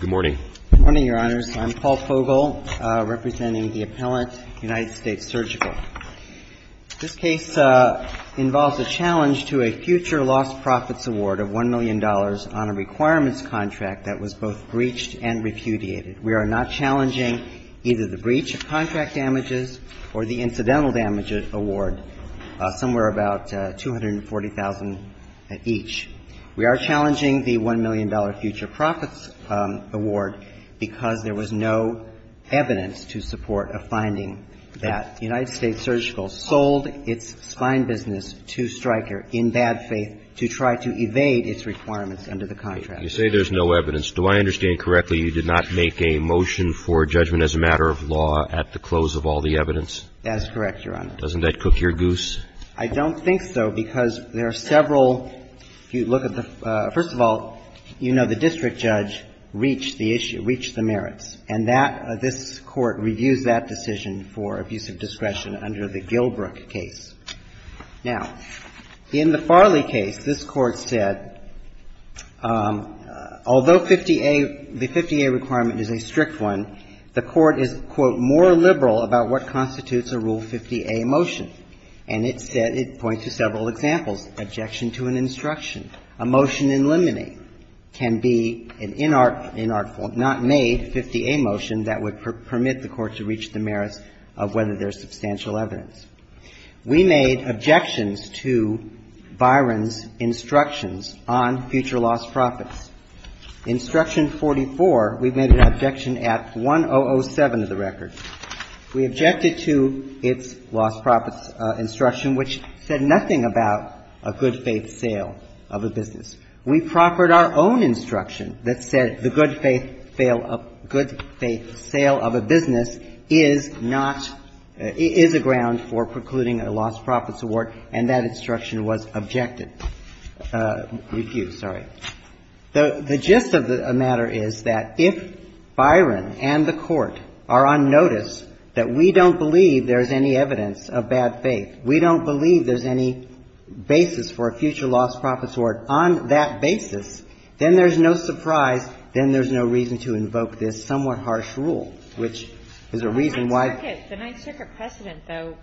Good morning. Good morning, your honors. I'm Paul Fogel, representing the appellant United States Surgical. This case involves a challenge to a future lost-profits award of $1 million on a requirements contract that was both breached and repudiated. We are not challenging either the breach of contract damages or the incidental damages award, somewhere about 240,000 at each. We are challenging the $1 million future profits award because there was no evidence to support a finding that United States Surgical sold its spine business to Stryker in bad faith to try to evade its requirements under the contract. You say there's no evidence. Do I understand correctly you did not make a motion for judgment as a matter of law at the close of all the evidence? That is correct, your honor. Doesn't that cook your goose? I don't think so, because there are several you look at the first of all, you know the district judge reached the issue, reached the merits. And that this Court reviews that decision for abuse of discretion under the Gilbrook case. Now, in the Farley case, this Court said, although 50A, the 50A requirement is a strict one, the Court is, quote, more liberal about what constitutes a Rule 50A motion. And it said, it points to several examples, objection to an instruction. A motion in limine can be an inartful, not made 50A motion that would permit the Court to reach the merits of whether there's substantial evidence. We made objections to Byron's instructions on future loss profits. Instruction 44, we've made an objection at 1007 of the record. We objected to its loss profits instruction, which said nothing about a good-faith sale of a business. We proffered our own instruction that said the good-faith sale of a business is not – is a ground for precluding a loss profits award, and that instruction was objected – refused, sorry. The gist of the matter is that if Byron and the Court are on notice that we don't believe there's any evidence of bad faith, we don't believe there's any basis for a future loss profits award on that basis, then there's no surprise, then there's no reason to invoke this somewhat harsh rule, which is a reason why the Ninth Circuit precedent, though,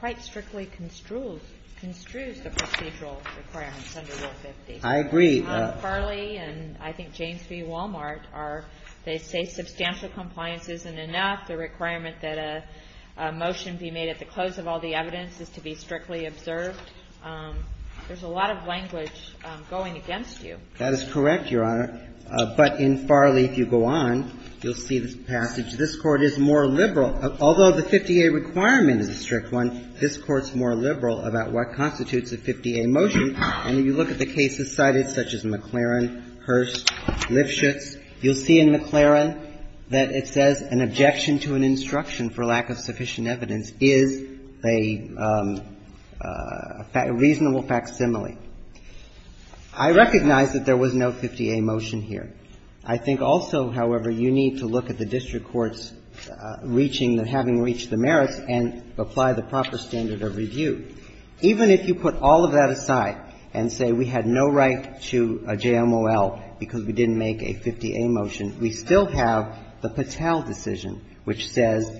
quite strictly construes the procedural requirements under Rule 50. I agree. Farley and, I think, James v. Walmart are – they say substantial compliance isn't enough, the requirement that a motion be made at the close of all the evidence is to be strictly observed. There's a lot of language going against you. That is correct, Your Honor. But in Farley, if you go on, you'll see this passage. This Court is more liberal. Although the 50A requirement is a strict one, this Court's more liberal about what constitutes a 50A motion. And if you look at the cases cited, such as McLaren, Hearst, Lifshitz, you'll see in McLaren that it says an objection to an instruction for lack of sufficient evidence is a reasonable facsimile. I recognize that there was no 50A motion here. I think also, however, you need to look at the district courts reaching the – having reached the merits and apply the proper standard of review. Even if you put all of that aside and say we had no right to a JMOL because we didn't make a 50A motion, we still have the Patel decision, which says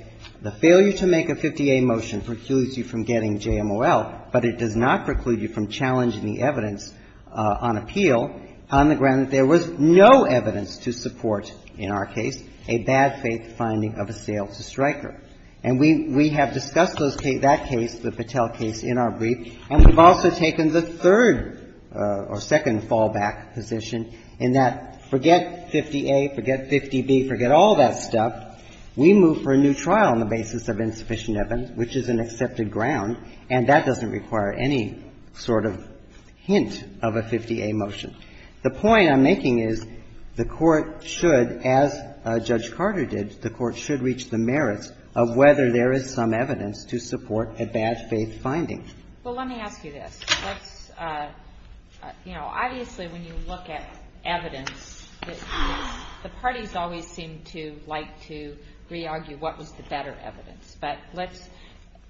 the failure to make a 50A motion precludes you from getting JMOL, but it does not preclude you from challenging the evidence on appeal on the ground that there was no evidence to support, in our case, a bad faith finding of a sale to Stryker. And we have discussed that case, the Patel case, in our brief, and we've also taken the third or second fallback position in that forget 50A, forget 50B, forget all that stuff, we move for a new trial on the basis of insufficient evidence, which is an accepted ground, and that doesn't require any sort of hint of a 50A motion. The point I'm making is the Court should, as Judge Carter did, the Court should reach the merits of whether there is some evidence to support a bad faith finding. Well, let me ask you this. Let's, you know, obviously when you look at evidence, the parties always seem to like to re-argue what was the better evidence, but let's,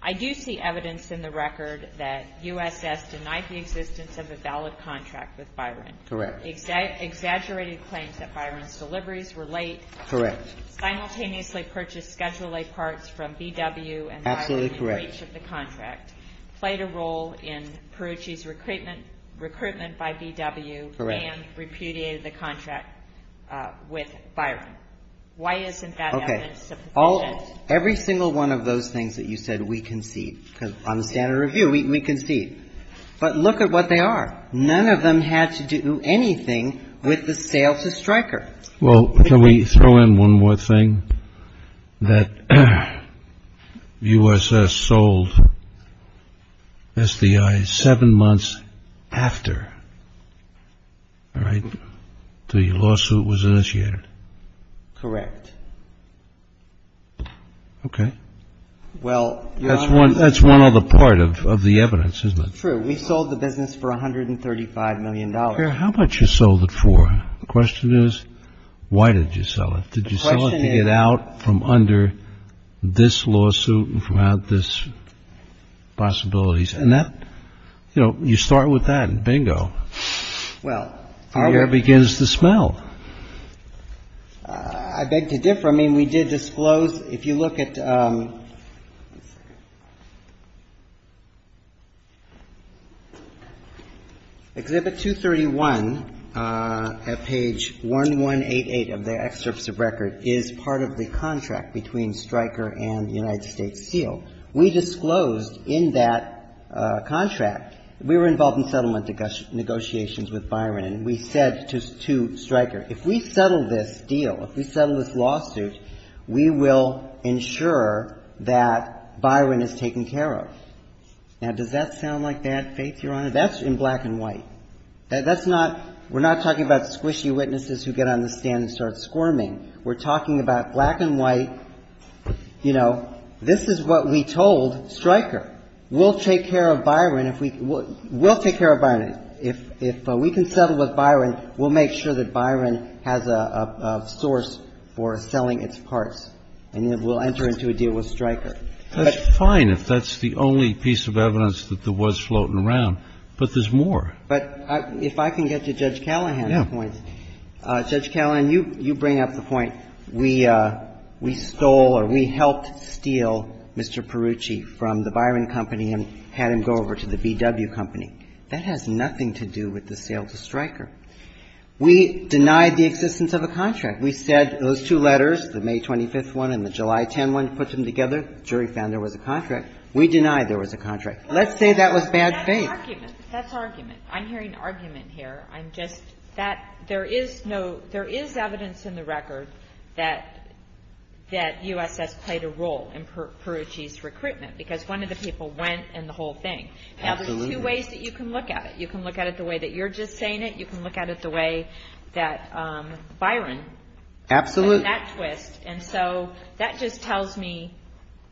I do see evidence in the record that USS denied the existence of a valid contract with Byron. Correct. Exaggerated claims that Byron's deliveries were late. Correct. Simultaneously purchased Schedule A parts from B.W. and Byron in breach of the contract. Absolutely correct. Played a role in Perucci's recruitment by B.W. Correct. And repudiated the contract with Byron. Why isn't that evidence sufficient? Okay. Every single one of those things that you said we concede, because on the standard review, we concede. But look at what they are. None of them had to do anything with the sale to Stryker. Well, can we throw in one more thing? That USS sold SDI seven months after, all right, the lawsuit was initiated. Correct. Okay. Well, that's one other part of the evidence, isn't it? True. We sold the business for $135 million. How much you sold it for? The question is, why did you sell it? Did you sell it to get out from under this lawsuit and from out this possibilities? And that, you know, you start with that and bingo. Well. The air begins to smell. I beg to differ. I mean, we did disclose. If you look at Exhibit 231 at page 1188 of the excerpts of record is part of the contract between Stryker and the United States seal. We disclosed in that contract, we were involved in settlement negotiations with Byron, and we said to Stryker, if we settle this deal, if we settle this deal, we'll ensure that Byron is taken care of. Now, does that sound like bad faith, Your Honor? That's in black and white. That's not, we're not talking about squishy witnesses who get on the stand and start squirming. We're talking about black and white, you know, this is what we told Stryker. We'll take care of Byron if we, we'll take care of Byron. If we can settle with Byron, we'll make sure that Byron has a source for selling its parts. And then we'll enter into a deal with Stryker. But That's fine if that's the only piece of evidence that there was floating around. But there's more. But if I can get to Judge Callahan's point. Yeah. Judge Callahan, you bring up the point, we stole or we helped steal Mr. Perucci from the Byron company and had him go over to the B.W. company. That has nothing to do with the sale to Stryker. We denied the existence of a contract. We said those two letters, the May 25th one and the July 10 one, put them together. The jury found there was a contract. We denied there was a contract. Let's say that was bad faith. That's argument. That's argument. I'm hearing argument here. I'm just, that, there is no, there is evidence in the record that, that U.S.S. played a role in Perucci's recruitment. Because one of the people went and the whole thing. Absolutely. Now, there's two ways that you can look at it. You can look at it the way that you're just saying it. You can look at it the way that Byron. Absolutely. That twist. And so that just tells me,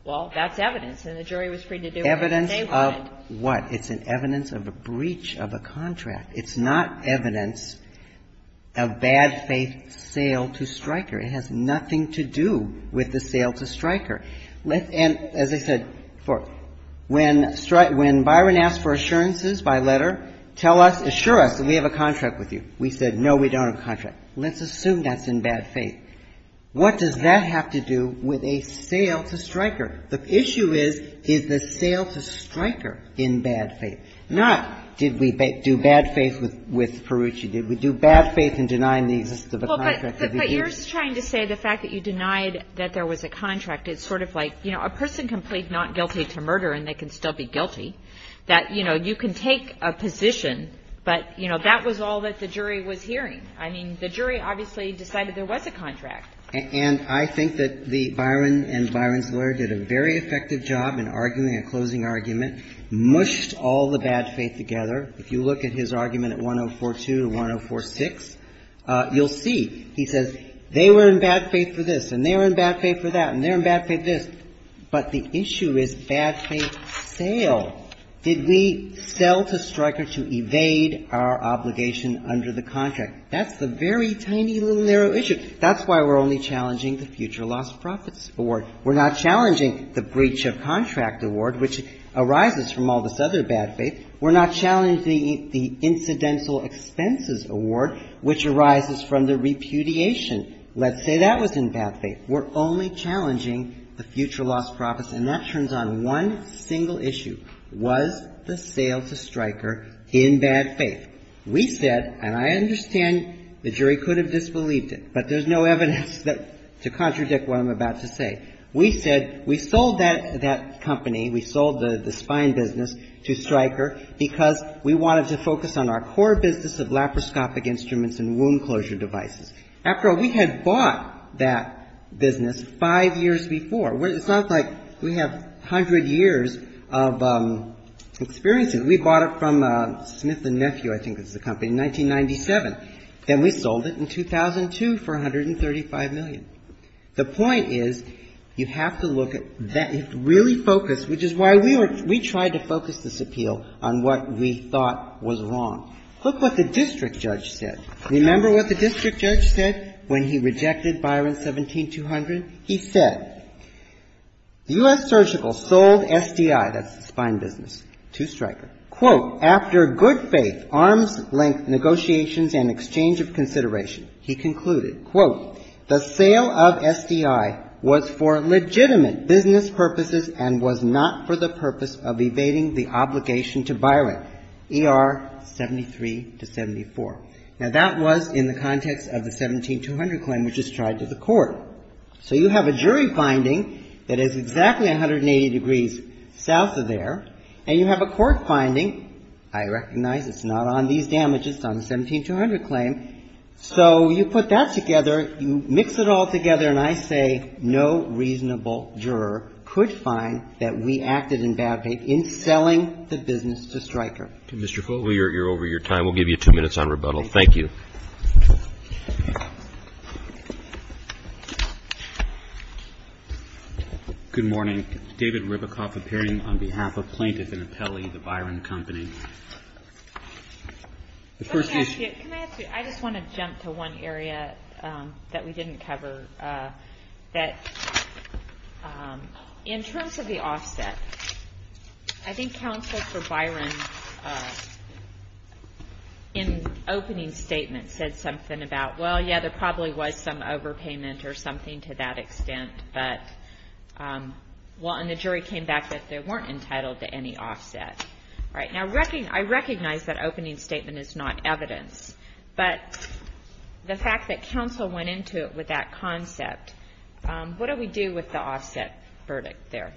well, that's evidence. And the jury was free to do whatever they wanted. Evidence of what? It's an evidence of a breach of a contract. It's not evidence of bad faith sale to Stryker. It has nothing to do with the sale to Stryker. And as I said, when Byron asked for assurances by letter, tell us, assure us that we have a contract. We said, no, we don't have a contract. Let's assume that's in bad faith. What does that have to do with a sale to Stryker? The issue is, is the sale to Stryker in bad faith? Not, did we do bad faith with Perucci? Did we do bad faith in denying the existence of a contract? But you're just trying to say the fact that you denied that there was a contract is sort of like, you know, a person can plead not guilty to murder and they can still be guilty. That, you know, you can take a position, but, you know, that was all that the jury was hearing. I mean, the jury obviously decided there was a contract. And I think that the, Byron and Byron's lawyer did a very effective job in arguing a closing argument. Mushed all the bad faith together. If you look at his argument at 1042 to 1046, you'll see. He says, they were in bad faith for this, and they were in bad faith for that, and they were in bad faith for this. But the issue is bad faith sale. Did we sell to Stryker to evade our obligation under the contract? That's the very tiny little narrow issue. That's why we're only challenging the future lost profits award. We're not challenging the breach of contract award, which arises from all this other bad faith. We're not challenging the incidental expenses award, which arises from the repudiation. Let's say that was in bad faith. We're only challenging the future lost profits, and that turns on one single issue. Was the sale to Stryker in bad faith? We said, and I understand the jury could have disbelieved it, but there's no evidence to contradict what I'm about to say. We said, we sold that company. We sold the spine business to Stryker because we wanted to focus on our core business of laparoscopic instruments and wound closure devices. After all, we had bought that business five years before. It's not like we have 100 years of experience in it. We bought it from Smith and Nephew, I think it was the company, in 1997. Then we sold it in 2002 for $135 million. The point is you have to look at that and really focus, which is why we tried to focus this appeal on what we thought was wrong. Look what the district judge said. Remember what the district judge said when he rejected Byron 17200? He said, U.S. Surgical sold SDI, that's the spine business, to Stryker. Quote, after good faith, arms-length negotiations and exchange of consideration, he concluded, quote, the sale of SDI was for legitimate business purposes and was not for the purpose of evading the obligation to Byron, ER 73 to 74. Now, that was in the context of the 17200 claim, which was tried to the court. So you have a jury finding that is exactly 180 degrees south of there, and you have a court finding. I recognize it's not on these damages, it's on the 17200 claim. So you put that together, you mix it all together, and I say no reasonable juror could find that we acted in bad faith in selling the business to Stryker. You're over your time. We'll give you two minutes on rebuttal. Thank you. Good morning. David Ribicoff, appearing on behalf of plaintiff and appellee, the Byron Company. Can I ask you, I just want to jump to one area that we didn't cover. That in terms of the offset, I think counsel for Byron in opening statement said something about, well, yeah, there probably was some overpayment or something to that extent, but, well, and the jury came back that they weren't entitled to any offset. All right. Now, I recognize that opening statement is not evidence, but the fact that counsel went into it with that concept, what do we do with the offset verdict there?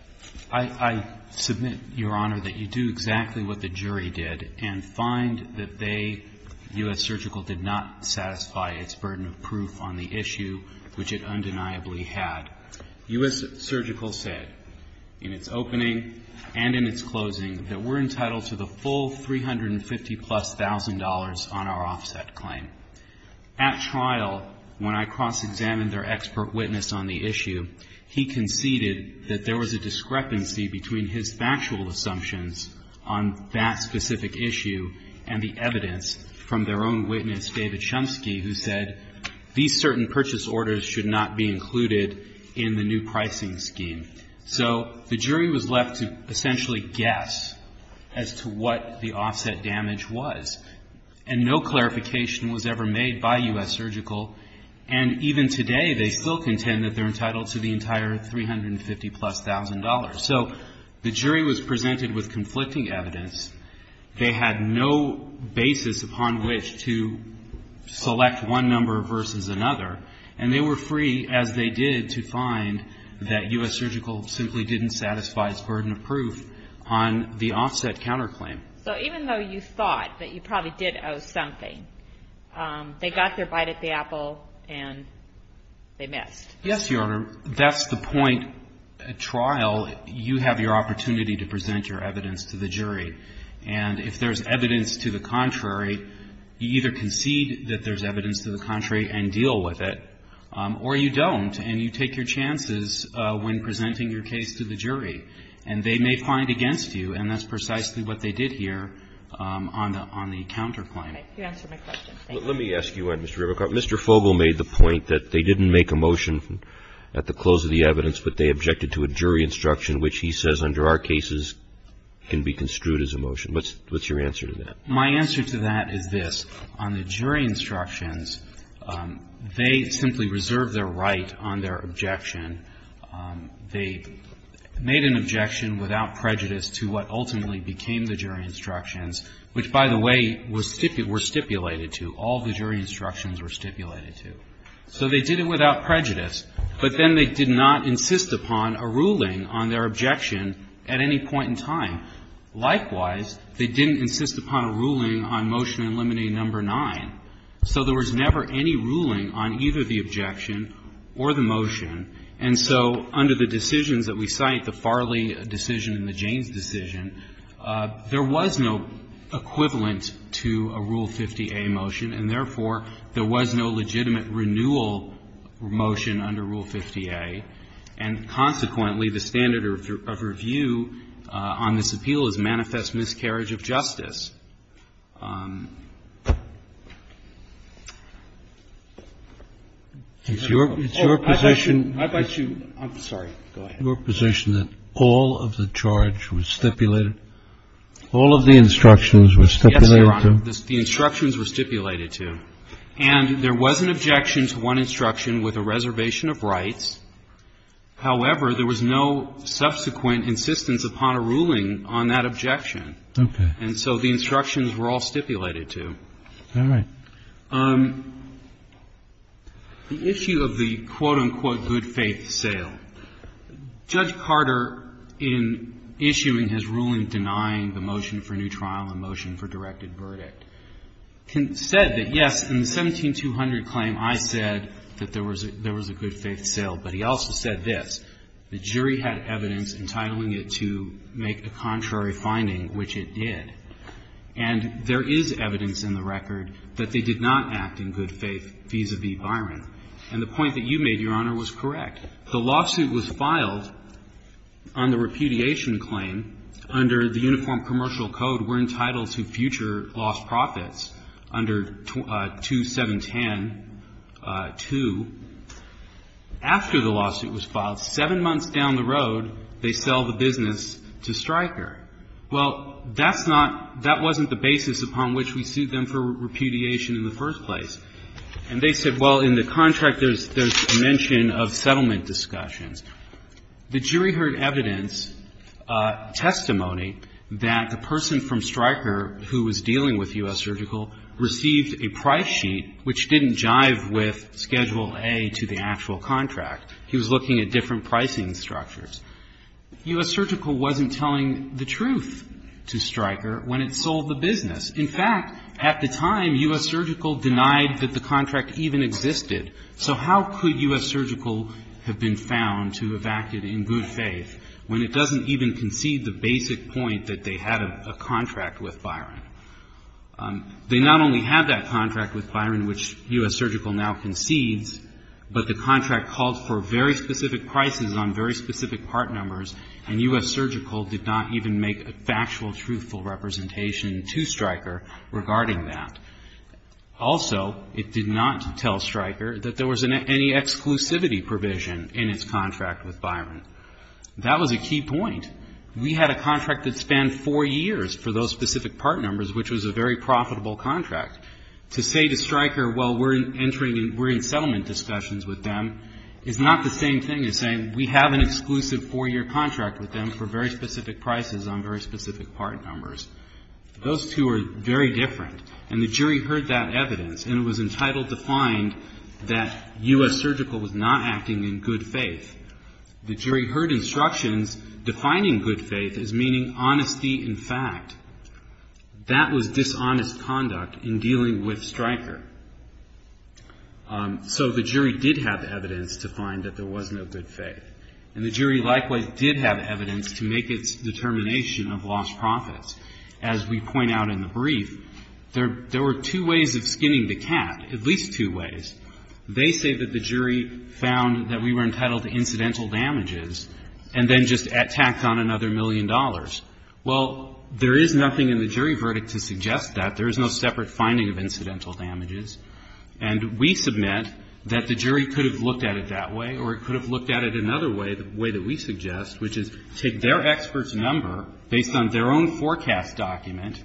I submit, Your Honor, that you do exactly what the jury did and find that they, U.S. Surgical, did not satisfy its burden of proof on the issue, which it undeniably had. U.S. Surgical said in its opening and in its closing that we're entitled to the full $350,000-plus on our offset claim. At trial, when I cross-examined their expert witness on the issue, he conceded that there was a discrepancy between his factual assumptions on that specific issue and the evidence from their own witness, David Shumsky, who said these certain purchase orders should not be included in the new pricing scheme. So the jury was left to essentially guess as to what the offset damage was. And no clarification was ever made by U.S. Surgical, and even today they still contend that they're entitled to the entire $350,000-plus. So the jury was presented with conflicting evidence. They had no basis upon which to select one number versus another. And they were free, as they did, to find that U.S. Surgical simply didn't satisfy its burden of proof on the offset counterclaim. So even though you thought that you probably did owe something, they got their bite at the apple and they missed. Yes, Your Honor. That's the point. At trial, you have your opportunity to present your evidence to the jury. And if there's evidence to the contrary, you either concede that there's evidence to the contrary and deal with it, or you don't and you take your chances when presenting your case to the jury. And they may find against you, and that's precisely what they did here on the counterclaim. You answered my question. Thank you. Let me ask you one, Mr. Rivercroft. Mr. Fogel made the point that they didn't make a motion at the close of the evidence, but they objected to a jury instruction, which he says under our cases can be construed as a motion. What's your answer to that? My answer to that is this. On the jury instructions, they simply reserved their right on their objection. They made an objection without prejudice to what ultimately became the jury instructions, which, by the way, were stipulated to, all the jury instructions were stipulated to. So they did it without prejudice. But then they did not insist upon a ruling on their objection at any point in time. Likewise, they didn't insist upon a ruling on motion eliminating number nine. So there was never any ruling on either the objection or the motion. And so under the decisions that we cite, the Farley decision and the Jaynes decision, there was no equivalent to a Rule 50A motion. And therefore, there was no legitimate renewal motion under Rule 50A. And consequently, the standard of review on this appeal is manifest miscarriage of justice. It's your position that all of the charge was stipulated to the jury. All of the instructions were stipulated to? Yes, Your Honor. The instructions were stipulated to. And there was an objection to one instruction with a reservation of rights. However, there was no subsequent insistence upon a ruling on that objection. Okay. And so the instructions were all stipulated to. All right. The issue of the, quote, unquote, good faith sale. Judge Carter, in issuing his ruling denying the motion for new trial and motion for directed verdict, said that, yes, in the 17200 claim, I said that there was a good faith sale. But he also said this. The jury had evidence entitling it to make a contrary finding, which it did. And there is evidence in the record that they did not act in good faith vis-à-vis Byron. And the point that you made, Your Honor, was correct. The lawsuit was filed on the repudiation claim under the Uniform Commercial Code. We're entitled to future lost profits under 2710-2. After the lawsuit was filed, seven months down the road, they sell the business to Stryker. Well, that's not, that wasn't the basis upon which we sued them for repudiation in the first place. And they said, well, in the contract there's a mention of settlement discussions. The jury heard evidence, testimony, that the person from Stryker who was dealing with U.S. Surgical received a price sheet which didn't jive with Schedule A to the actual contract. He was looking at different pricing structures. U.S. Surgical wasn't telling the truth to Stryker when it sold the business. In fact, at the time, U.S. Surgical denied that the contract even existed. So how could U.S. Surgical have been found to have acted in good faith when it doesn't even concede the basic point that they had a contract with Byron? They not only had that contract with Byron, which U.S. Surgical now concedes, but the and U.S. Surgical did not even make a factual, truthful representation to Stryker regarding that. Also, it did not tell Stryker that there was any exclusivity provision in its contract with Byron. That was a key point. We had a contract that spanned four years for those specific part numbers, which was a very profitable contract. To say to Stryker, well, we're entering, we're in settlement discussions with them, is not the same thing as saying we have an exclusive four-year contract with them for very specific prices on very specific part numbers. Those two are very different. And the jury heard that evidence, and it was entitled to find that U.S. Surgical was not acting in good faith. The jury heard instructions defining good faith as meaning honesty in fact. That was dishonest conduct in dealing with Stryker. So the jury did have evidence to find that there was no good faith. And the jury likewise did have evidence to make its determination of lost profits. As we point out in the brief, there were two ways of skinning the cat, at least two ways. They say that the jury found that we were entitled to incidental damages and then just tacked on another million dollars. Well, there is nothing in the jury verdict to suggest that. There is no separate finding of incidental damages. And we submit that the jury could have looked at it that way or it could have looked at it another way, the way that we suggest, which is take their expert's number based on their own forecast document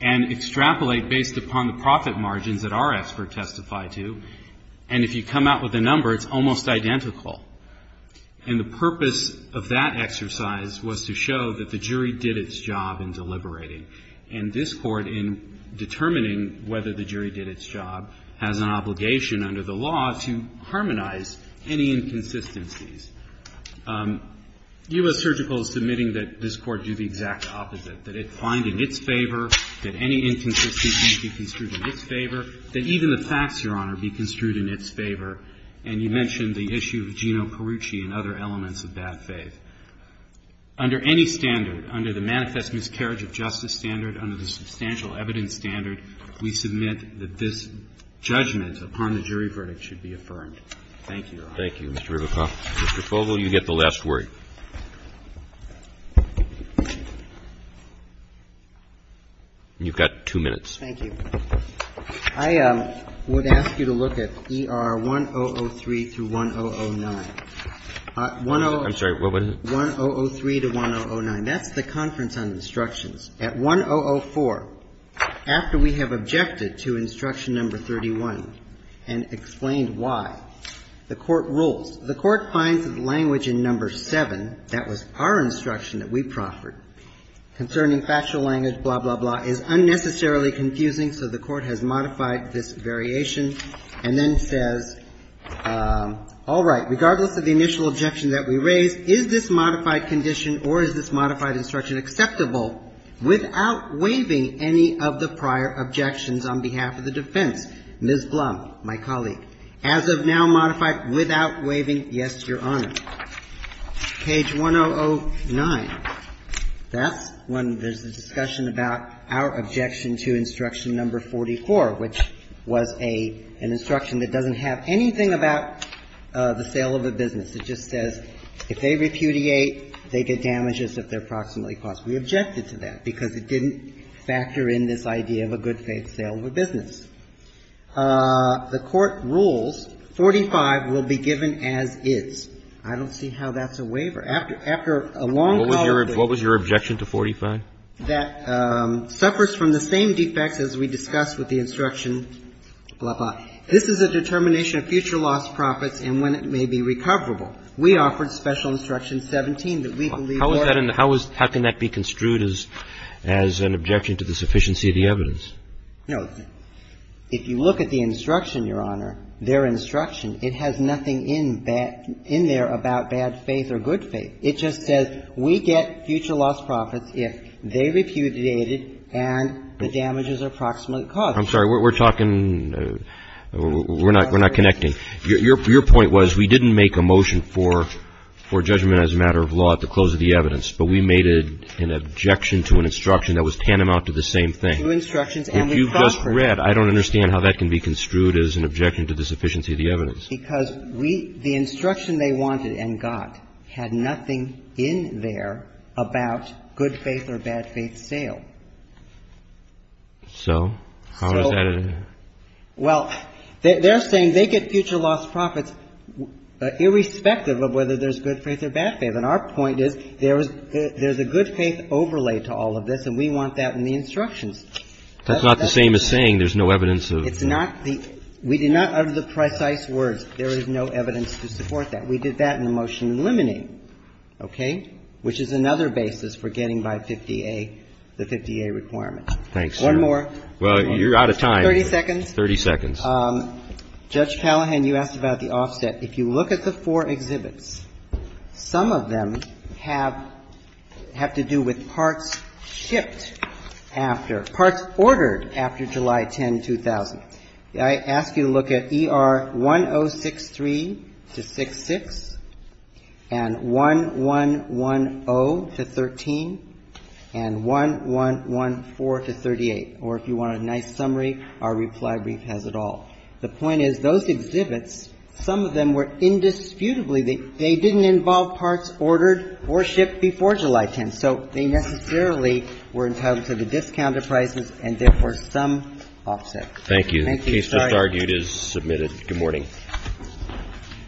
and extrapolate based upon the profit margins that our expert testified to. And if you come out with a number, it's almost identical. And the purpose of that exercise was to show that the jury did its job in deliberating. And this Court, in determining whether the jury did its job, has an obligation under the law to harmonize any inconsistencies. U.S. Surgical is submitting that this Court do the exact opposite, that it find in its favor that any inconsistency be construed in its favor, that even the facts, Your Honor, be construed in its favor. And you mentioned the issue of Gino Carucci and other elements of bad faith. Under any standard, under the Manifest Miscarriage of Justice standard, under the Substantial Evidence standard, we submit that this judgment upon the jury verdict should be affirmed. Thank you, Your Honor. Roberts. Thank you, Mr. Ribicoff. Mr. Fogel, you get the last word. You've got two minutes. Thank you. I would ask you to look at ER 1003 through 1009. I'm sorry, what was it? 1003 to 1009. That's the conference on instructions. At 1004, after we have objected to instruction number 31 and explained why, the Court rules. The Court finds language in number 7, that was our instruction that we proffered, concerning factual language, blah, blah, blah, is unnecessarily confusing, so the Court has modified this variation and then says, all right, regardless of the initial objection that we raised, is this modified condition or is this modified instruction acceptable without waiving any of the prior objections on behalf of the defense? Ms. Blum, my colleague, as of now modified without waiving, yes, Your Honor. Page 1009, that's when there's a discussion about our objection to instruction number 44, which was an instruction that doesn't have anything about the sale of a business It just says, if they repudiate, they get damages if they're proximally caused. We objected to that because it didn't factor in this idea of a good-faith sale of a business. The Court rules 45 will be given as is. I don't see how that's a waiver. After a long call of duty. What was your objection to 45? This is a determination of future lost profits and when it may be recoverable. We offered special instruction 17 that we believe were. How can that be construed as an objection to the sufficiency of the evidence? No. If you look at the instruction, Your Honor, their instruction, it has nothing in there about bad faith or good faith. It just says, we get future lost profits if they repudiate it and the damages are proximally caused. I'm sorry, we're talking, we're not connecting. Your point was, we didn't make a motion for judgment as a matter of law at the close of the evidence, but we made an objection to an instruction that was tantamount to the same thing. If you just read, I don't understand how that can be construed as an objection to the sufficiency of the evidence. Because the instruction they wanted and got had nothing in there about good faith or bad faith sale. So, how is that? Well, they're saying they get future lost profits irrespective of whether there's good faith or bad faith. And our point is, there's a good faith overlay to all of this and we want that in the instructions. That's not the same as saying there's no evidence of. It's not. We did not utter the precise words. There is no evidence to support that. We did that in the motion in limine. Okay? Which is another basis for getting by 50A, the 50A requirement. Thanks. One more. Well, you're out of time. 30 seconds. 30 seconds. Judge Palahan, you asked about the offset. If you look at the four exhibits, some of them have to do with parts shipped after, parts ordered after July 10, 2000. I ask you to look at ER 1063-66 and 1110-13 and 1114-38. Or if you want a nice summary, our reply brief has it all. The point is, those exhibits, some of them were indisputably, they didn't involve parts ordered or shipped before July 10. So, they necessarily were entitled to the discounted prices and therefore some offset. Thank you. The case just argued is submitted.